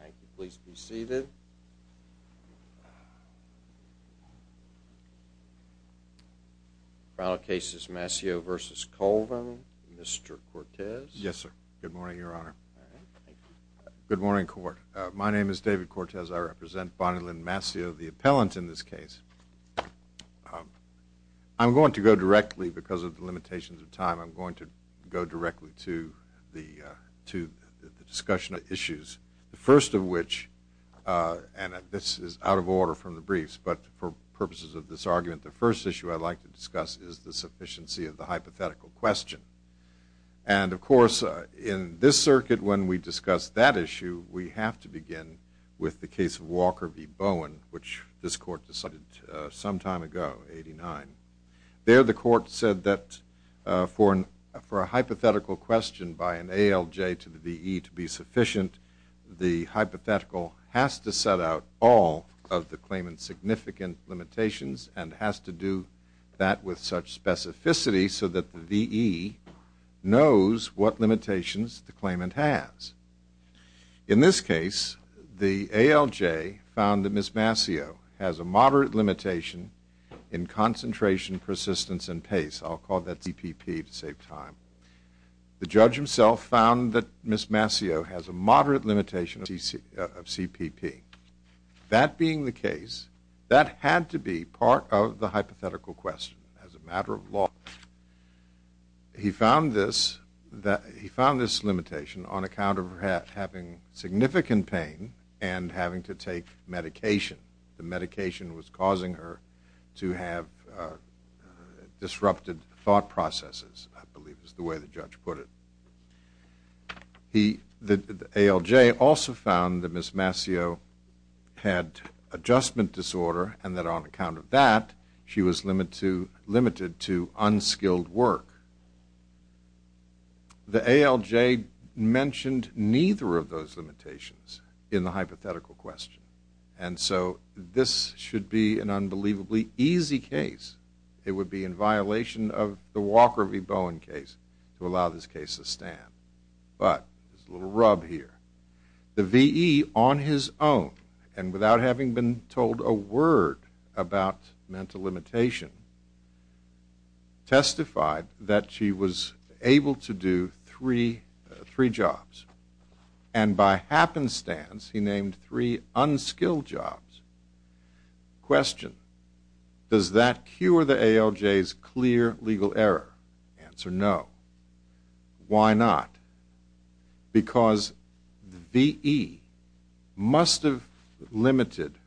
Thank you. Please be seated. The trial case is Mascio v. Colvin. Mr. Cortez? Yes, sir. Good morning, Your Honor. Good morning, court. My name is David Cortez. I represent Bonnilyn Mascio, the appellant in this case. I'm going to go directly, because of the limitations of time, I'm going to go directly to the discussion of issues. The first of which, and this is out of order from the briefs, but for purposes of this argument, the first issue I'd like to discuss is the sufficiency of the hypothetical question. And, of course, in this circuit, when we discuss that issue, we have to begin with the case of Walker v. Bowen, which this court decided some time ago, 89. There the court said that for a hypothetical question by an ALJ to the VE to be sufficient, the hypothetical has to set out all of the claimant's significant limitations and has to do that with such specificity so that the VE knows what limitations the claimant has. In this case, the ALJ found that Ms. Mascio has a moderate limitation in concentration, persistence, and pace. I'll call that CPP to save time. The judge himself found that Ms. Mascio has a moderate limitation of CPP. That being the case, that had to be part of the hypothetical question. As a matter of law, he found this limitation on account of her having significant pain and having to take medication. The medication was causing her to have disrupted thought processes, I believe is the way the judge put it. The ALJ also found that Ms. Mascio had adjustment disorder and that on account of that, she was limited to unskilled work. The ALJ mentioned neither of those limitations in the hypothetical question. And so, this should be an unbelievably easy case. It would be in violation of the Walker v. Bowen case to allow this case to stand. But, there's a little rub here. The VE, on his own, and without having been told a word about mental limitation, testified that she was able to do three jobs. And by happenstance, he named three unskilled jobs. Question, does that cure the ALJ's clear legal error? Answer, no. Why not? Because VE must have limited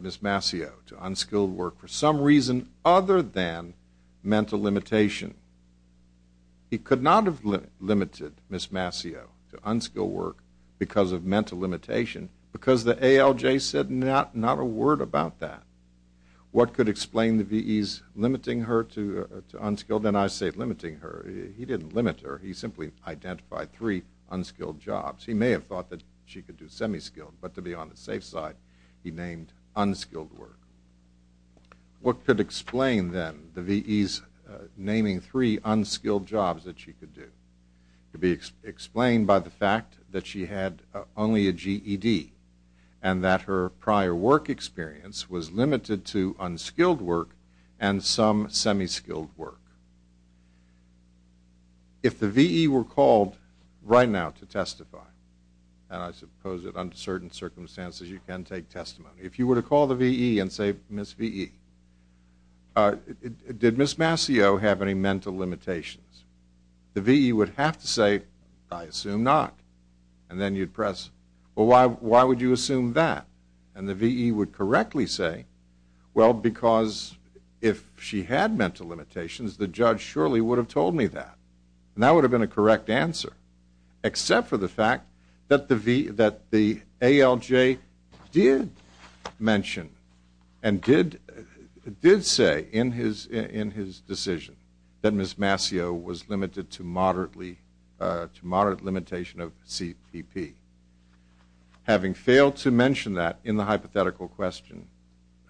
Ms. Mascio to unskilled work for some reason other than mental limitation. He could not have limited Ms. Mascio to unskilled work because of mental limitation because the ALJ said not a word about that. What could explain the VE's limiting her to unskilled? And I say limiting her. He didn't limit her. He simply identified three unskilled jobs. He may have thought that she could do semi-skilled, but to be on the safe side, he named unskilled work. What could explain, then, the VE's naming three unskilled jobs that she could do? It could be explained by the fact that she had only a GED and that her prior work experience was limited to unskilled work and some semi-skilled work. If the VE were called right now to testify, and I suppose that under certain circumstances you can take testimony, if you were to call the VE and say, Ms. VE, did Ms. Mascio have any mental limitations? The VE would have to say, I assume not. And then you'd press, well, why would you assume that? And the VE would correctly say, well, because if she had mental limitations, the judge surely would have told me that. And that would have been a correct answer, except for the fact that the ALJ did mention and did say in his decision that Ms. Mascio was limited to moderate limitation of CPP. Having failed to mention that in the hypothetical question,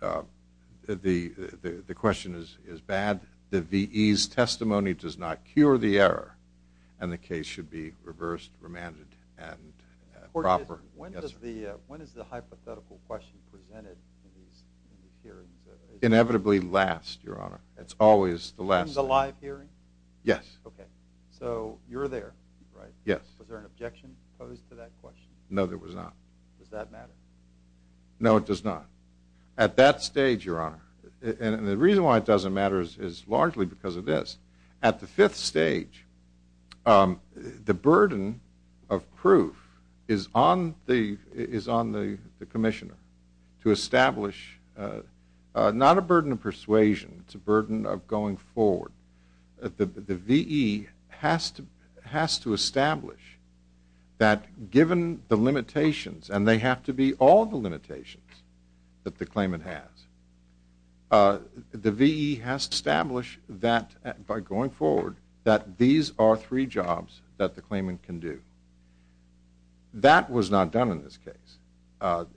the question is bad. The VE's testimony does not cure the error, and the case should be reversed, remanded, and proper. When is the hypothetical question presented in these hearings? Inevitably last, Your Honor. It's always the last. In the live hearing? Yes. Okay. So you're there, right? Yes. Was there an objection posed to that question? No, there was not. Does that matter? No, it does not. At that stage, Your Honor, and the reason why it doesn't matter is largely because of this. At the fifth stage, the burden of proof is on the commissioner to establish not a burden of persuasion. It's a burden of going forward. The VE has to establish that given the limitations, and they have to be all the limitations that the claimant has, the VE has to establish that by going forward that these are three jobs that the claimant can do. That was not done in this case.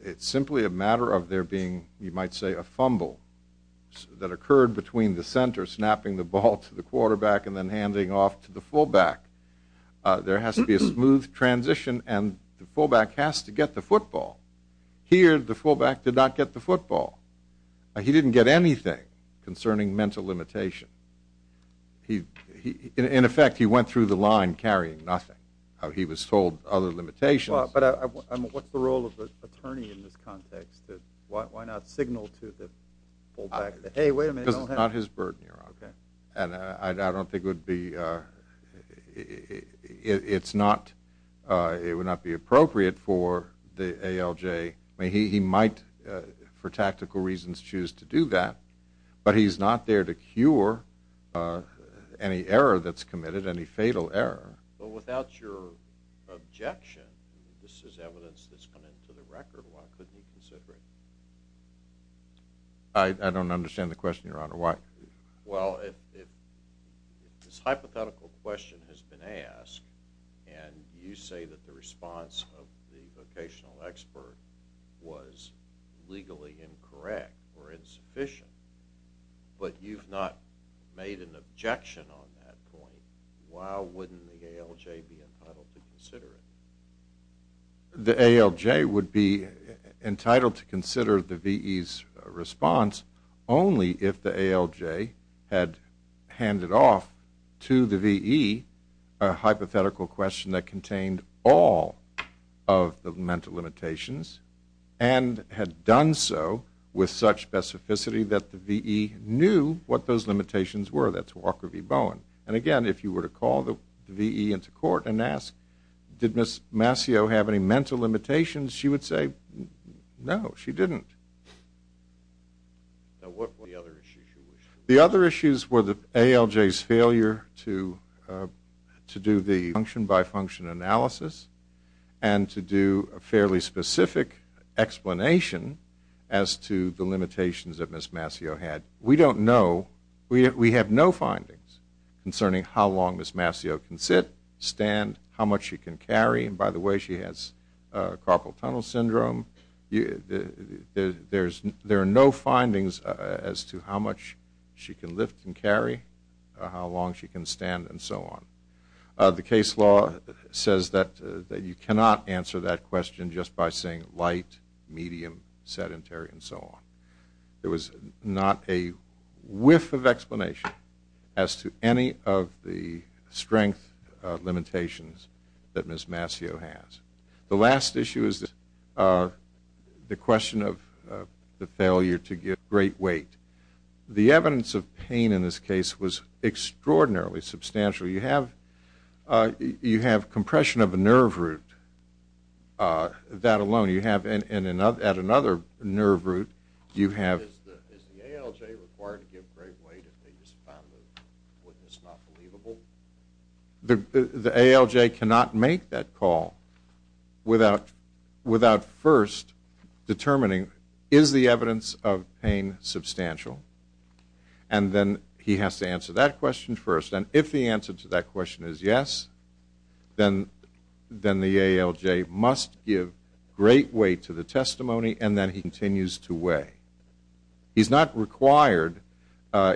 It's simply a matter of there being, you might say, a fumble that occurred between the center snapping the ball to the quarterback and then handing off to the fullback. There has to be a smooth transition, and the fullback has to get the football. Here, the fullback did not get the football. He didn't get anything concerning mental limitation. In effect, he went through the line carrying nothing. He was told other limitations. But what's the role of the attorney in this context? Why not signal to the fullback, hey, wait a minute. Because it's not his burden, Your Honor. I don't think it would be appropriate for the ALJ. He might, for tactical reasons, choose to do that. But he's not there to cure any error that's committed, any fatal error. But without your objection, this is evidence that's come into the record. Why couldn't he consider it? I don't understand the question, Your Honor. Why? Well, if this hypothetical question has been asked and you say that the response of the vocational expert was legally incorrect or insufficient, but you've not made an objection on that point, why wouldn't the ALJ be entitled to consider it? The ALJ would be entitled to consider the VE's response only if the ALJ had handed off to the VE a hypothetical question that contained all of the mental limitations and had done so with such specificity that the VE knew what those limitations were. That's Walker v. Bowen. And again, if you were to call the VE into court and ask, did Ms. Mascio have any mental limitations? She would say, no, she didn't. Now, what were the other issues? The other issues were the ALJ's failure to do the function-by-function analysis and to do a fairly specific explanation as to the limitations that Ms. Mascio had. We don't know. We have no findings concerning how long Ms. Mascio can sit, stand, how much she can carry, and by the way, she has carpal tunnel syndrome. There are no findings as to how much she can lift and carry, how long she can stand, and so on. The case law says that you cannot answer that question just by saying light, medium, sedentary, and so on. There was not a whiff of explanation as to any of the strength limitations that Ms. Mascio has. The last issue is the question of the failure to give great weight. The evidence of pain in this case was extraordinarily substantial. You have compression of a nerve root. That alone, you have at another nerve root, you have- Is the ALJ required to give great weight if they just found the witness not believable? The ALJ cannot make that call without first determining, is the evidence of pain substantial? And then he has to answer that question first, and if the answer to that question is yes, then the ALJ must give great weight to the testimony, and then he continues to weigh. He's not required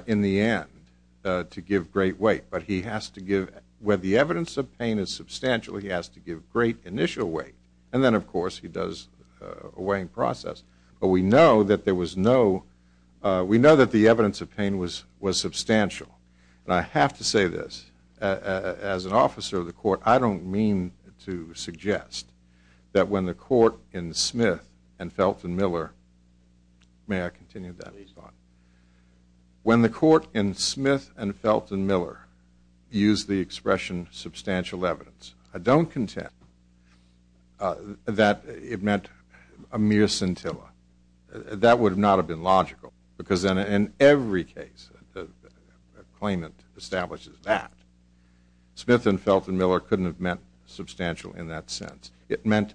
in the end to give great weight, but he has to give- Where the evidence of pain is substantial, he has to give great initial weight, and then, of course, he does a weighing process. But we know that there was no- We know that the evidence of pain was substantial. And I have to say this. As an officer of the court, I don't mean to suggest that when the court in Smith and Felton Miller- May I continue that? Please do. When the court in Smith and Felton Miller used the expression substantial evidence, I don't contend that it meant a mere scintilla. That would not have been logical, because in every case, the claimant establishes that. Smith and Felton Miller couldn't have meant substantial in that sense. It meant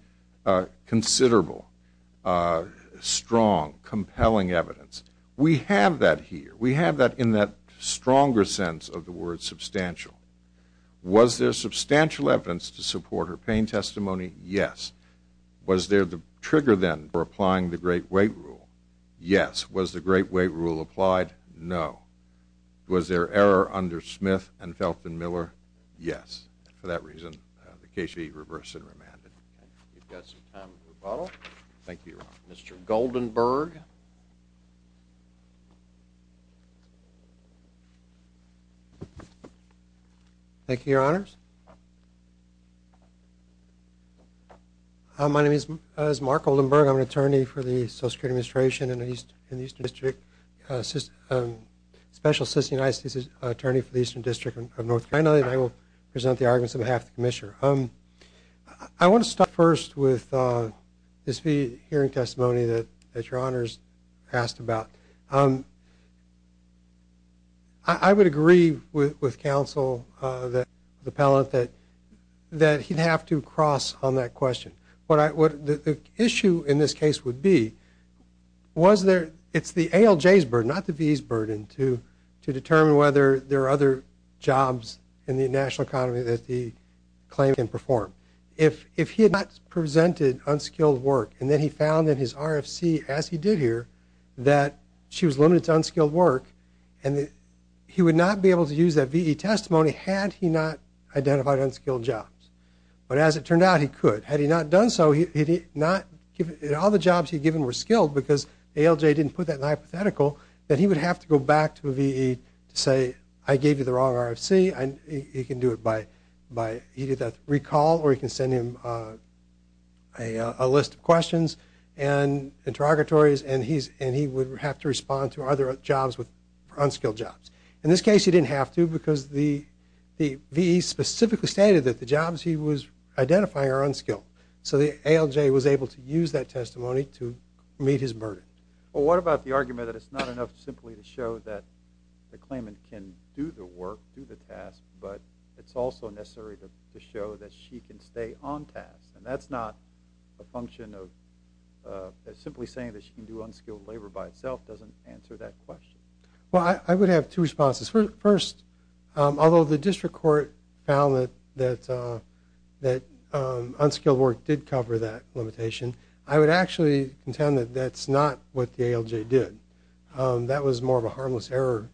considerable, strong, compelling evidence. We have that here. We have that in that stronger sense of the word substantial. Was there substantial evidence to support her pain testimony? Yes. Was there the trigger, then, for applying the great weight rule? Yes. Was the great weight rule applied? No. Was there error under Smith and Felton Miller? Yes. For that reason, the case should be reversed and remanded. We've got some time for rebuttal. Thank you, Your Honor. Mr. Goldenberg. Thank you, Your Honors. My name is Mark Goldenberg. I'm an attorney for the Social Security Administration in the Eastern District, special assistant to the United States Attorney for the Eastern District of North Carolina, and I will present the arguments on behalf of the Commissioner. I want to start first with this hearing testimony that Your Honors asked about. I would agree with counsel, the appellant, that he'd have to cross on that question. The issue in this case would be was there the ALJ's burden, not the V's burden, to determine whether there are other jobs in the national economy that the claimant can perform. If he had not presented unskilled work and then he found in his RFC, as he did here, that she was limited to unskilled work, he would not be able to use that VE testimony had he not identified unskilled jobs. But as it turned out, he could. Had he not done so, all the jobs he had given were skilled because ALJ didn't put that in the hypothetical, then he would have to go back to a VE to say, I gave you the wrong RFC. He can do it by recall or he can send him a list of questions and interrogatories, and he would have to respond to are there jobs with unskilled jobs. In this case, he didn't have to because the VE specifically stated that the jobs he was identifying are unskilled. So the ALJ was able to use that testimony to meet his burden. Well, what about the argument that it's not enough simply to show that the claimant can do the work, do the task, but it's also necessary to show that she can stay on task? And that's not a function of simply saying that she can do unskilled labor by itself doesn't answer that question. Well, I would have two responses. First, although the district court found that unskilled work did cover that limitation, I would actually contend that that's not what the ALJ did. That was more of a harmless error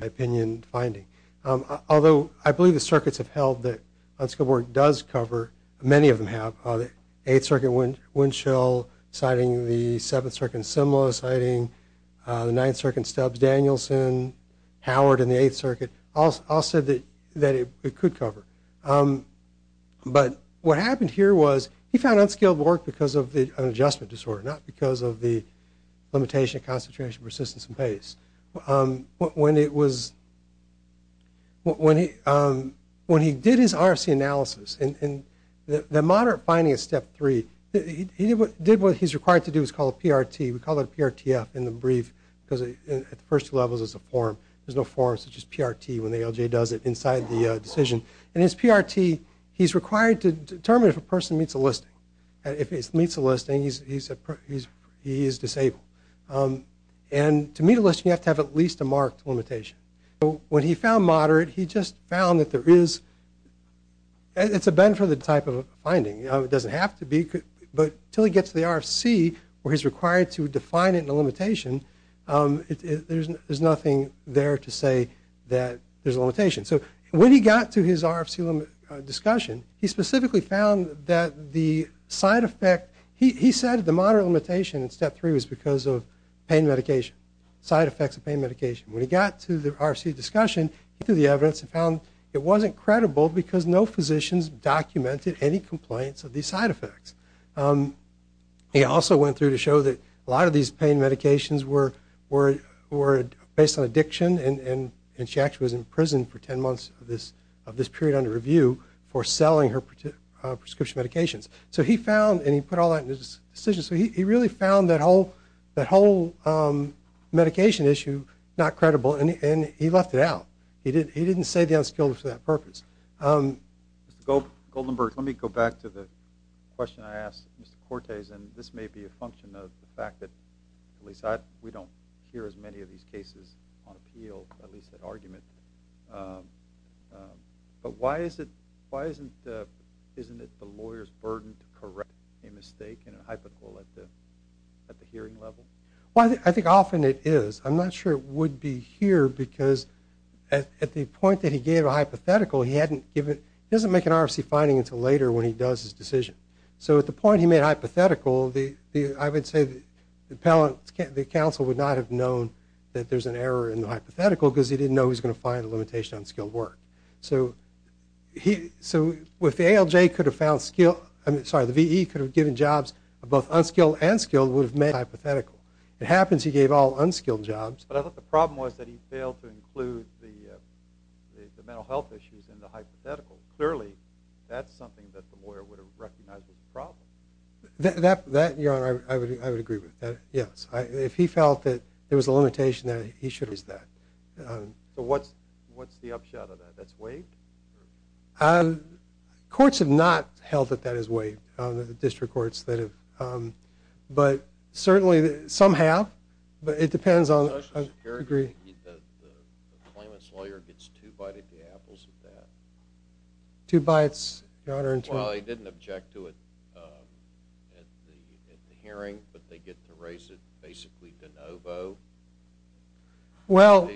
opinion finding. Although I believe the circuits have held that unskilled work does cover, many of them have, the 8th Circuit Windchill citing the 7th Circuit Simla, citing the 9th Circuit Stubbs-Danielson, Howard and the 8th Circuit, all said that it could cover. But what happened here was he found unskilled work because of an adjustment disorder, not because of the limitation, concentration, persistence, and pace. When he did his RFC analysis, and the moderate finding is Step 3, he did what he's required to do is called PRT. We call it PRTF in the brief because at the first two levels it's a form. There's no form such as PRT when the ALJ does it inside the decision. And it's PRT. He's required to determine if a person meets a listing. If he meets a listing, he is disabled. And to meet a listing, you have to have at least a marked limitation. When he found moderate, he just found that there is, it's a Benford type of finding. It doesn't have to be, but until he gets to the RFC where he's required to define it in a limitation, there's nothing there to say that there's a limitation. So when he got to his RFC discussion, he specifically found that the side effect, he said the moderate limitation in Step 3 was because of pain medication, side effects of pain medication. When he got to the RFC discussion, he took the evidence and found it wasn't credible because no physicians documented any complaints of these side effects. He also went through to show that a lot of these pain medications were based on addiction, and she actually was in prison for 10 months of this period under review for selling her prescription medications. So he found, and he put all that in his decision, so he really found that whole medication issue not credible, and he left it out. He didn't say the unskilled for that purpose. Mr. Goldenberg, let me go back to the question I asked Mr. Cortes, and this may be a function of the fact that we don't hear as many of these cases on appeal, at least that argument. But why isn't it the lawyer's burden to correct a mistake in a hypothetical at the hearing level? Well, I think often it is. I'm not sure it would be here because at the point that he gave a hypothetical, he doesn't make an RFC finding until later when he does his decision. So at the point he made a hypothetical, I would say the counsel would not have known that there's an error in the hypothetical because he didn't know he was going to find a limitation on skilled work. So if the V.E. could have given jobs of both unskilled and skilled, it would have made it a hypothetical. It happens he gave all unskilled jobs. But I thought the problem was that he failed to include the mental health issues in the hypothetical. Clearly that's something that the lawyer would have recognized as a problem. That, Your Honor, I would agree with. Yes. If he felt that there was a limitation, then he should have used that. So what's the upshot of that? That's waived? Courts have not held that that is waived, the district courts that have. But certainly some have, but it depends on the degree. The claimant's lawyer gets two bites at the apples with that. Two bites, Your Honor? Well, he didn't object to it at the hearing, but they get to raise it basically de novo. Well,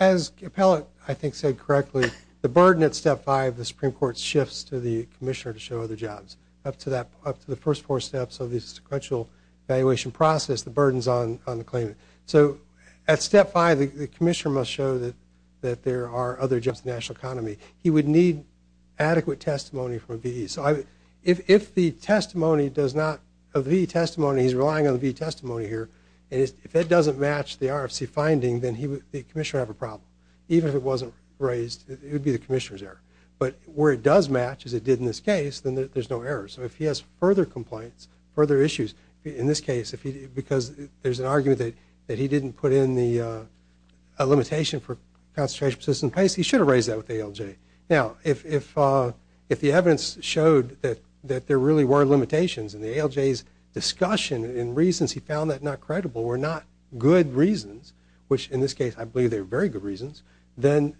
as the appellate, I think, said correctly, the burden at Step 5, the Supreme Court shifts to the commissioner to show other jobs. Up to the first four steps of the sequential evaluation process, the burden's on the claimant. So at Step 5, the commissioner must show that there are other jobs in the national economy. He would need adequate testimony from a V.E. So if the testimony does not, a V.E. testimony, he's relying on the V.E. testimony here, and if that doesn't match the RFC finding, then the commissioner would have a problem. Even if it wasn't raised, it would be the commissioner's error. But where it does match, as it did in this case, then there's no error. So if he has further complaints, further issues, in this case, because there's an argument that he didn't put in a limitation for concentration, persistence, and pace, he should have raised that with the ALJ. Now, if the evidence showed that there really were limitations and the ALJ's discussion and reasons he found that not credible were not good reasons, which in this case I believe they were very good reasons, then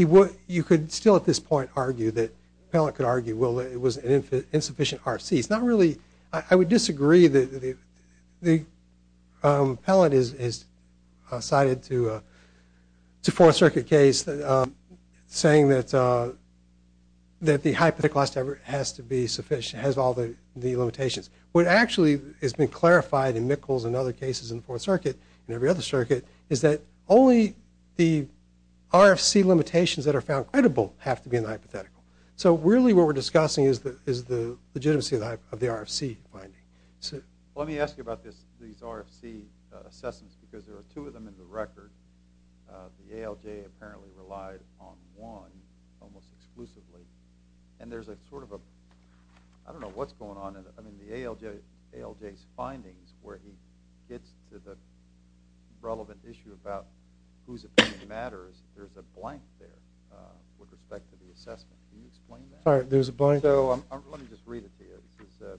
you could still at this point argue that the appellate could argue, well, it was an insufficient RFC. I would disagree that the appellate is cited to a Fourth Circuit case saying that the hypothetical has to be sufficient, has all the limitations. What actually has been clarified in Mickles and other cases in the Fourth Circuit and every other circuit is that only the RFC limitations that are found credible have to be in the hypothetical. So really what we're discussing is the legitimacy of the RFC finding. Let me ask you about these RFC assessments because there are two of them in the record. The ALJ apparently relied on one almost exclusively. And there's a sort of a, I don't know what's going on in the ALJ's findings where he gets to the relevant issue about whose opinion matters. There's a blank there with respect to the assessment. Can you explain that? Sorry, there's a blank? Let me just read it to you.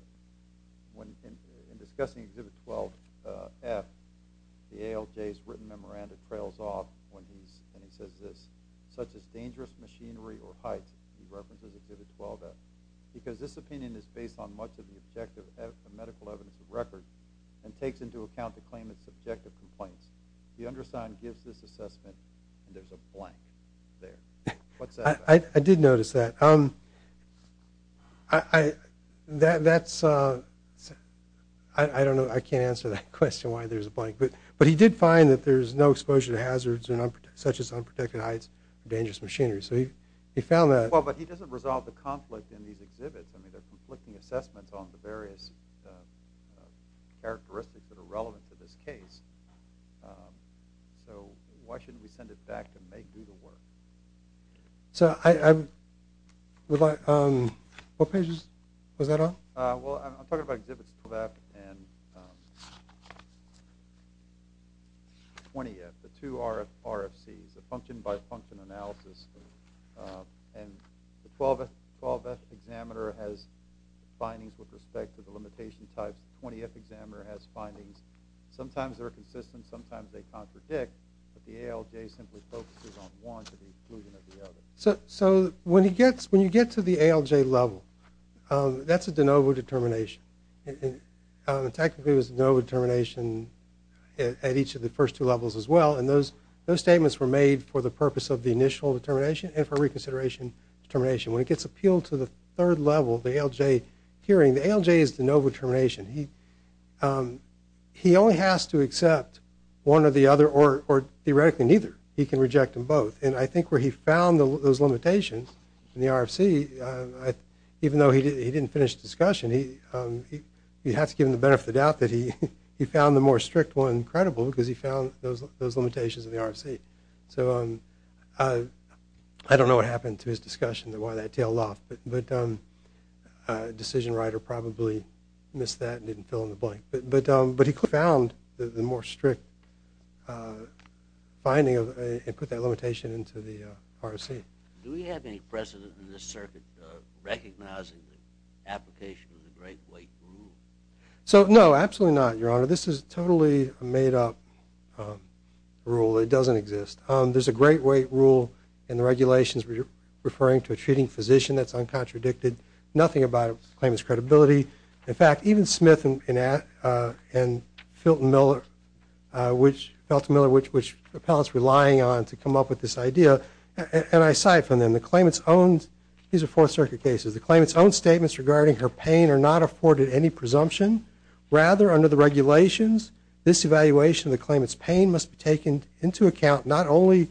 In discussing Exhibit 12-F, the ALJ's written memoranda trails off when he says this, such as dangerous machinery or heights, he references Exhibit 12-F, because this opinion is based on much of the objective medical evidence of record and takes into account the claimant's subjective complaints. The undersigned gives this assessment and there's a blank there. What's that about? I did notice that. That's, I don't know, I can't answer that question why there's a blank. But he did find that there's no exposure to hazards such as unprotected heights or dangerous machinery. So he found that. Well, but he doesn't resolve the conflict in these exhibits. I mean, they're conflicting assessments on the various characteristics that are relevant to this case. So why shouldn't we send it back to make Google work? So I would like, what page was that on? Well, I'm talking about Exhibits 12-F and 20-F, the two RFCs, the function-by-function analysis. And the 12-F examiner has findings with respect to the limitation types. The 20-F examiner has findings. Sometimes they're consistent, sometimes they contradict, but the ALJ simply focuses on one to the exclusion of the other. So when you get to the ALJ level, that's a de novo determination. Technically it was a de novo determination at each of the first two levels as well, and those statements were made for the purpose of the initial determination and for reconsideration determination. When it gets appealed to the third level, the ALJ hearing, he only has to accept one or the other, or theoretically neither. He can reject them both. And I think where he found those limitations in the RFC, even though he didn't finish the discussion, you have to give him the benefit of the doubt that he found the more strict one credible because he found those limitations in the RFC. So I don't know what happened to his discussion, why that tailed off, but a decision writer probably missed that and didn't fill in the blank. But he found the more strict finding and put that limitation into the RFC. Do we have any precedent in this circuit recognizing the application of the great weight rule? No, absolutely not, Your Honor. This is totally a made-up rule. It doesn't exist. There's a great weight rule in the regulations referring to a treating physician that's uncontradicted, nothing about claimant's credibility. In fact, even Smith and Felton Miller, which appellants were lying on to come up with this idea, and I cite from them, the claimant's own, these are Fourth Circuit cases, the claimant's own statements regarding her pain are not afforded any presumption. Rather, under the regulations, this evaluation of the claimant's pain must be taken into account, not only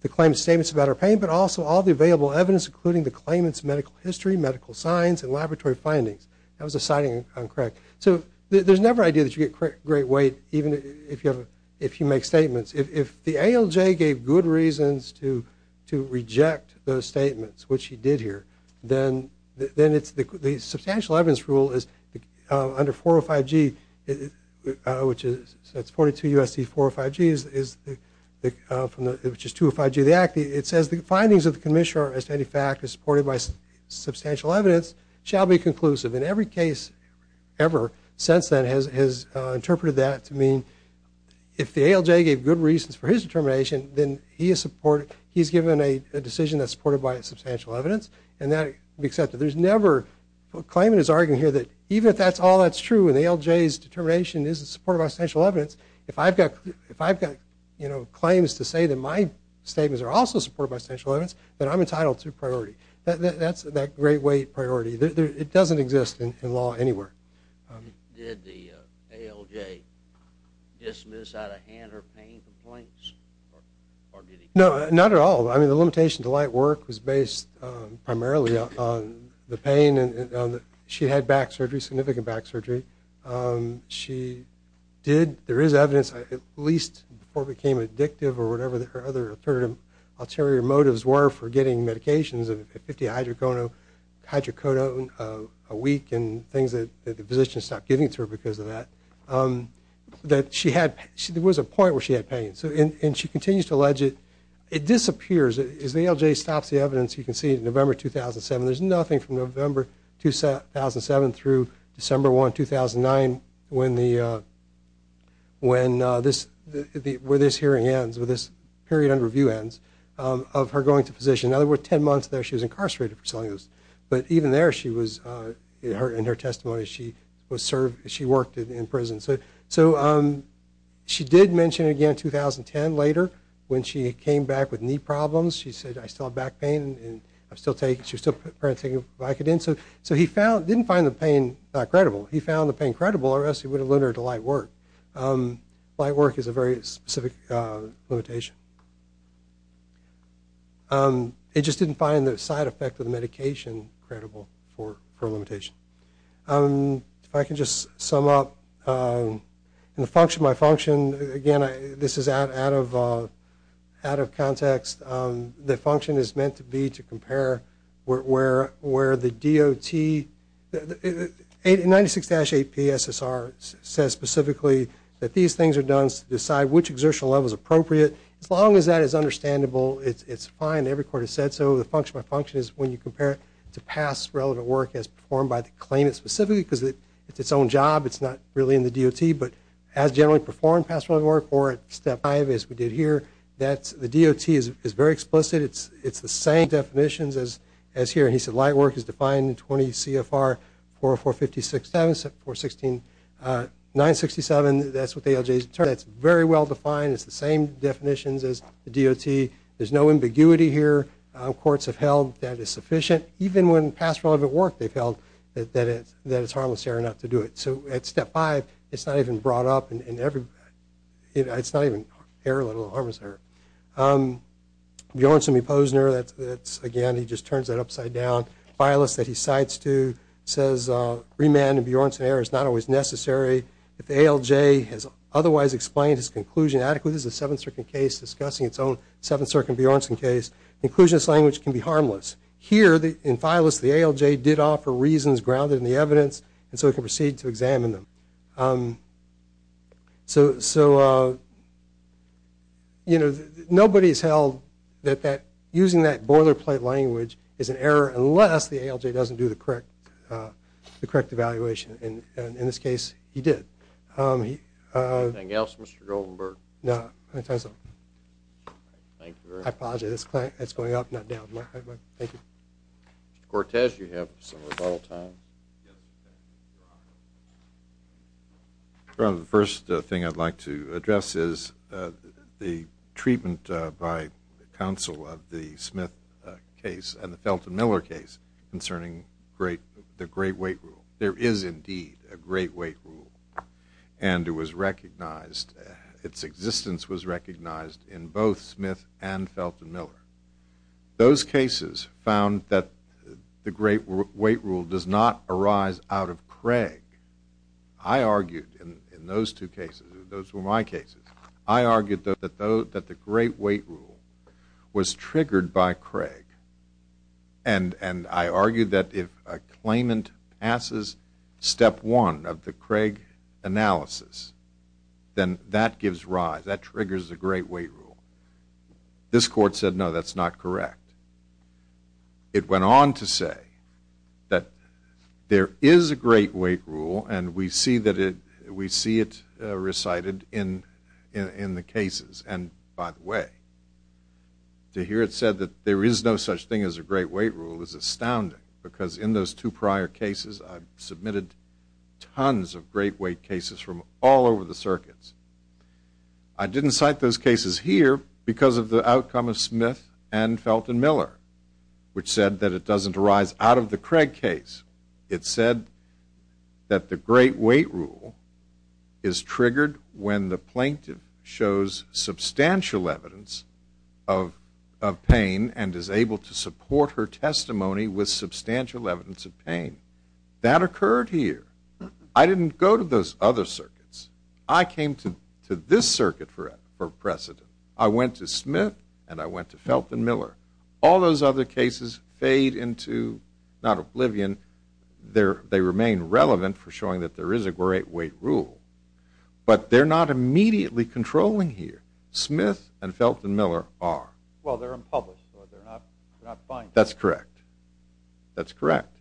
the claimant's statements about her pain, but also all the available evidence, including the claimant's medical history, medical signs, and laboratory findings. That was a citing I'm correct. So there's never an idea that you get great weight even if you make statements. If the ALJ gave good reasons to reject those statements, which he did here, then the substantial evidence rule is under 405G, which is 42 U.S.C. 405G, which is 205G of the Act. It says the findings of the commissioner as to any fact is supported by substantial evidence shall be conclusive. And every case ever since then has interpreted that to mean if the ALJ gave good reasons for his determination, then he's given a decision that's supported by substantial evidence, and that will be accepted. There's never a claimant is arguing here that even if that's all that's true, and the ALJ's determination is supported by substantial evidence, if I've got claims to say that my statements are also supported by substantial evidence, then I'm entitled to priority. That's that great weight priority. It doesn't exist in law anywhere. Did the ALJ dismiss out of hand her pain complaints? No, not at all. I mean, the limitation to light work was based primarily on the pain. She had back surgery, significant back surgery. She did, there is evidence, at least before it became addictive or whatever her other alternative motives were for getting medications, 50 hydrocodone a week and things that the physicians stopped giving to her because of that, that she had, there was a point where she had pain. And she continues to allege it. It disappears. As the ALJ stops the evidence, you can see in November 2007, there's nothing from November 2007 through December 1, 2009, where this hearing ends, where this period under review ends, of her going to physician. In other words, 10 months there she was incarcerated for selling those. But even there she was, in her testimony, she worked in prison. So she did mention it again in 2010 later when she came back with knee problems. She said, I still have back pain and I'm still taking, she's still taking Vicodin. So he found, didn't find the pain credible. He found the pain credible or else he would have limited her to light work. Light work is a very specific limitation. It just didn't find the side effect of the medication credible for a limitation. If I can just sum up. In the function by function, again, this is out of context, the function is meant to be to compare where the DOT, 96-8PSSR says specifically that these things are done to decide which exertional level is appropriate. As long as that is understandable, it's fine. Every court has said so. So the function by function is when you compare it to past relevant work as performed by the claimant specifically because it's its own job. It's not really in the DOT. But as generally performed past relevant work or at step five as we did here, the DOT is very explicit. It's the same definitions as here. And he said light work is defined in 20 CFR 404-56-7, 416-967. That's what the ALJs determine. That's very well defined. It's the same definitions as the DOT. There's no ambiguity here. Courts have held that it's sufficient. Even when past relevant work they've held that it's harmless error not to do it. So at step five, it's not even brought up. It's not even error, let alone harmless error. Bjornsen v. Posner, again, he just turns that upside down. File list that he cites too says remand and Bjornsen error is not always necessary. If the ALJ has otherwise explained its conclusion adequately, this is a Seventh Circuit case discussing its own Seventh Circuit Bjornsen case, inclusionist language can be harmless. Here in file list, the ALJ did offer reasons grounded in the evidence, and so it can proceed to examine them. So, you know, nobody has held that using that boilerplate language is an error unless the ALJ doesn't do the correct evaluation. And in this case, he did. Anything else, Mr. Goldenberg? No. Thank you very much. I apologize. It's going up, not down. Thank you. Mr. Cortez, you have some rebuttal time. The first thing I'd like to address is the treatment by counsel of the Smith case and the Felton Miller case concerning the great weight rule. There is indeed a great weight rule, and it was recognized, its existence was recognized in both Smith and Felton Miller. Those cases found that the great weight rule does not arise out of Craig. I argued in those two cases, those were my cases, I argued that the great weight rule was triggered by Craig, and I argued that if a claimant passes step one of the Craig analysis, then that gives rise, that triggers the great weight rule. This court said, no, that's not correct. It went on to say that there is a great weight rule, and we see it recited in the cases. And, by the way, to hear it said that there is no such thing as a great weight rule is astounding because in those two prior cases, I submitted tons of great weight cases from all over the circuits. I didn't cite those cases here because of the outcome of Smith and Felton Miller, which said that it doesn't arise out of the Craig case. It said that the great weight rule is triggered when the plaintiff shows substantial evidence of pain and is able to support her testimony with substantial evidence of pain. That occurred here. I didn't go to those other circuits. I came to this circuit for precedent. I went to Smith, and I went to Felton Miller. All those other cases fade into not oblivion. They remain relevant for showing that there is a great weight rule, but they're not immediately controlling here. Smith and Felton Miller are. Well, they're unpublished, so they're not binding. That's correct. That's correct.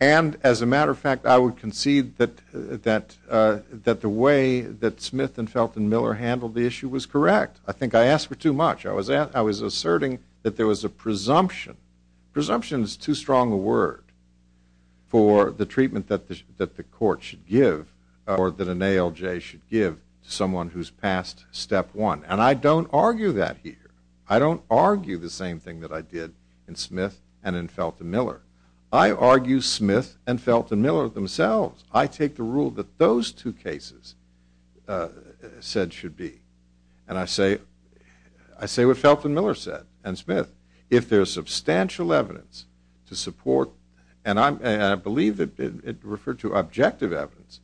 And, as a matter of fact, I would concede that the way that Smith and Felton Miller handled the issue was correct. I think I asked for too much. I was asserting that there was a presumption. Presumption is too strong a word for the treatment that the court should give or that an ALJ should give to someone who's passed step one. And I don't argue that here. I don't argue the same thing that I did in Smith and in Felton Miller. I argue Smith and Felton Miller themselves. I take the rule that those two cases said should be. And I say what Felton Miller said and Smith. If there is substantial evidence to support, and I believe it referred to objective evidence,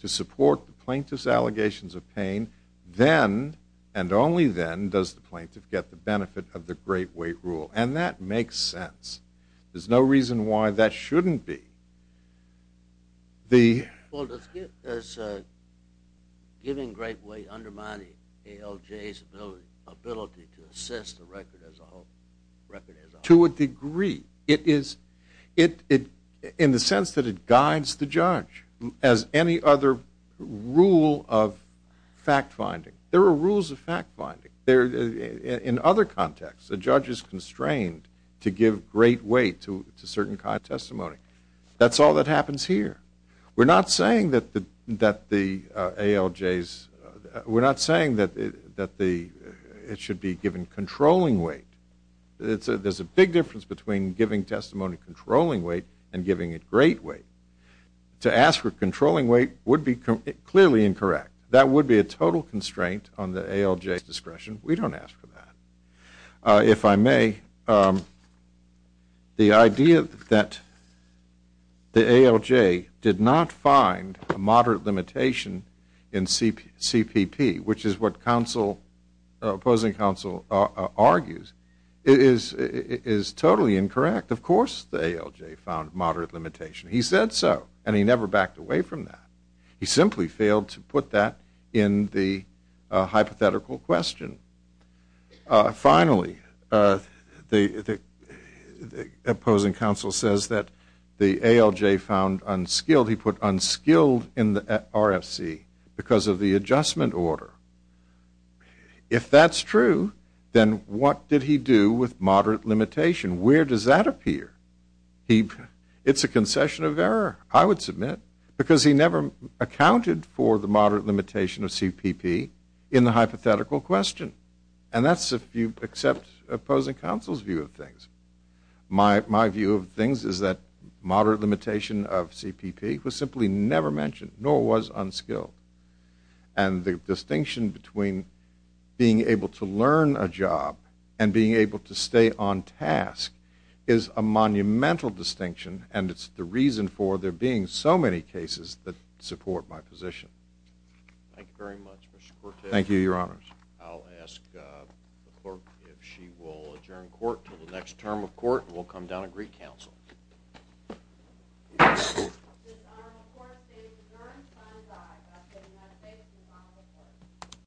to support the plaintiff's allegations of pain, then and only then does the plaintiff get the benefit of the great weight rule. And that makes sense. There's no reason why that shouldn't be. Well, does giving great weight undermine ALJ's ability to assess the record as a whole? To a degree. In the sense that it guides the judge, as any other rule of fact finding. There are rules of fact finding. In other contexts, the judge is constrained to give great weight to certain kind of testimony. That's all that happens here. We're not saying that the ALJ's, we're not saying that it should be given controlling weight. There's a big difference between giving testimony controlling weight and giving it great weight. To ask for controlling weight would be clearly incorrect. That would be a total constraint on the ALJ's discretion. We don't ask for that. If I may, the idea that the ALJ did not find a moderate limitation in CPP, which is what opposing counsel argues, is totally incorrect. Of course the ALJ found moderate limitation. He said so, and he never backed away from that. He simply failed to put that in the hypothetical question. Finally, the opposing counsel says that the ALJ found unskilled. He put unskilled in the RFC because of the adjustment order. If that's true, then what did he do with moderate limitation? Where does that appear? It's a concession of error, I would submit. Because he never accounted for the moderate limitation of CPP in the hypothetical question. That's if you accept opposing counsel's view of things. My view of things is that moderate limitation of CPP was simply never mentioned, nor was unskilled. The distinction between being able to learn a job and being able to stay on task is a monumental distinction. And it's the reason for there being so many cases that support my position. Thank you very much, Mr. Cortes. Thank you, Your Honors. I'll ask the clerk if she will adjourn court until the next term of court. And we'll come down and recounsel. This honorable court is adjourned, time is up.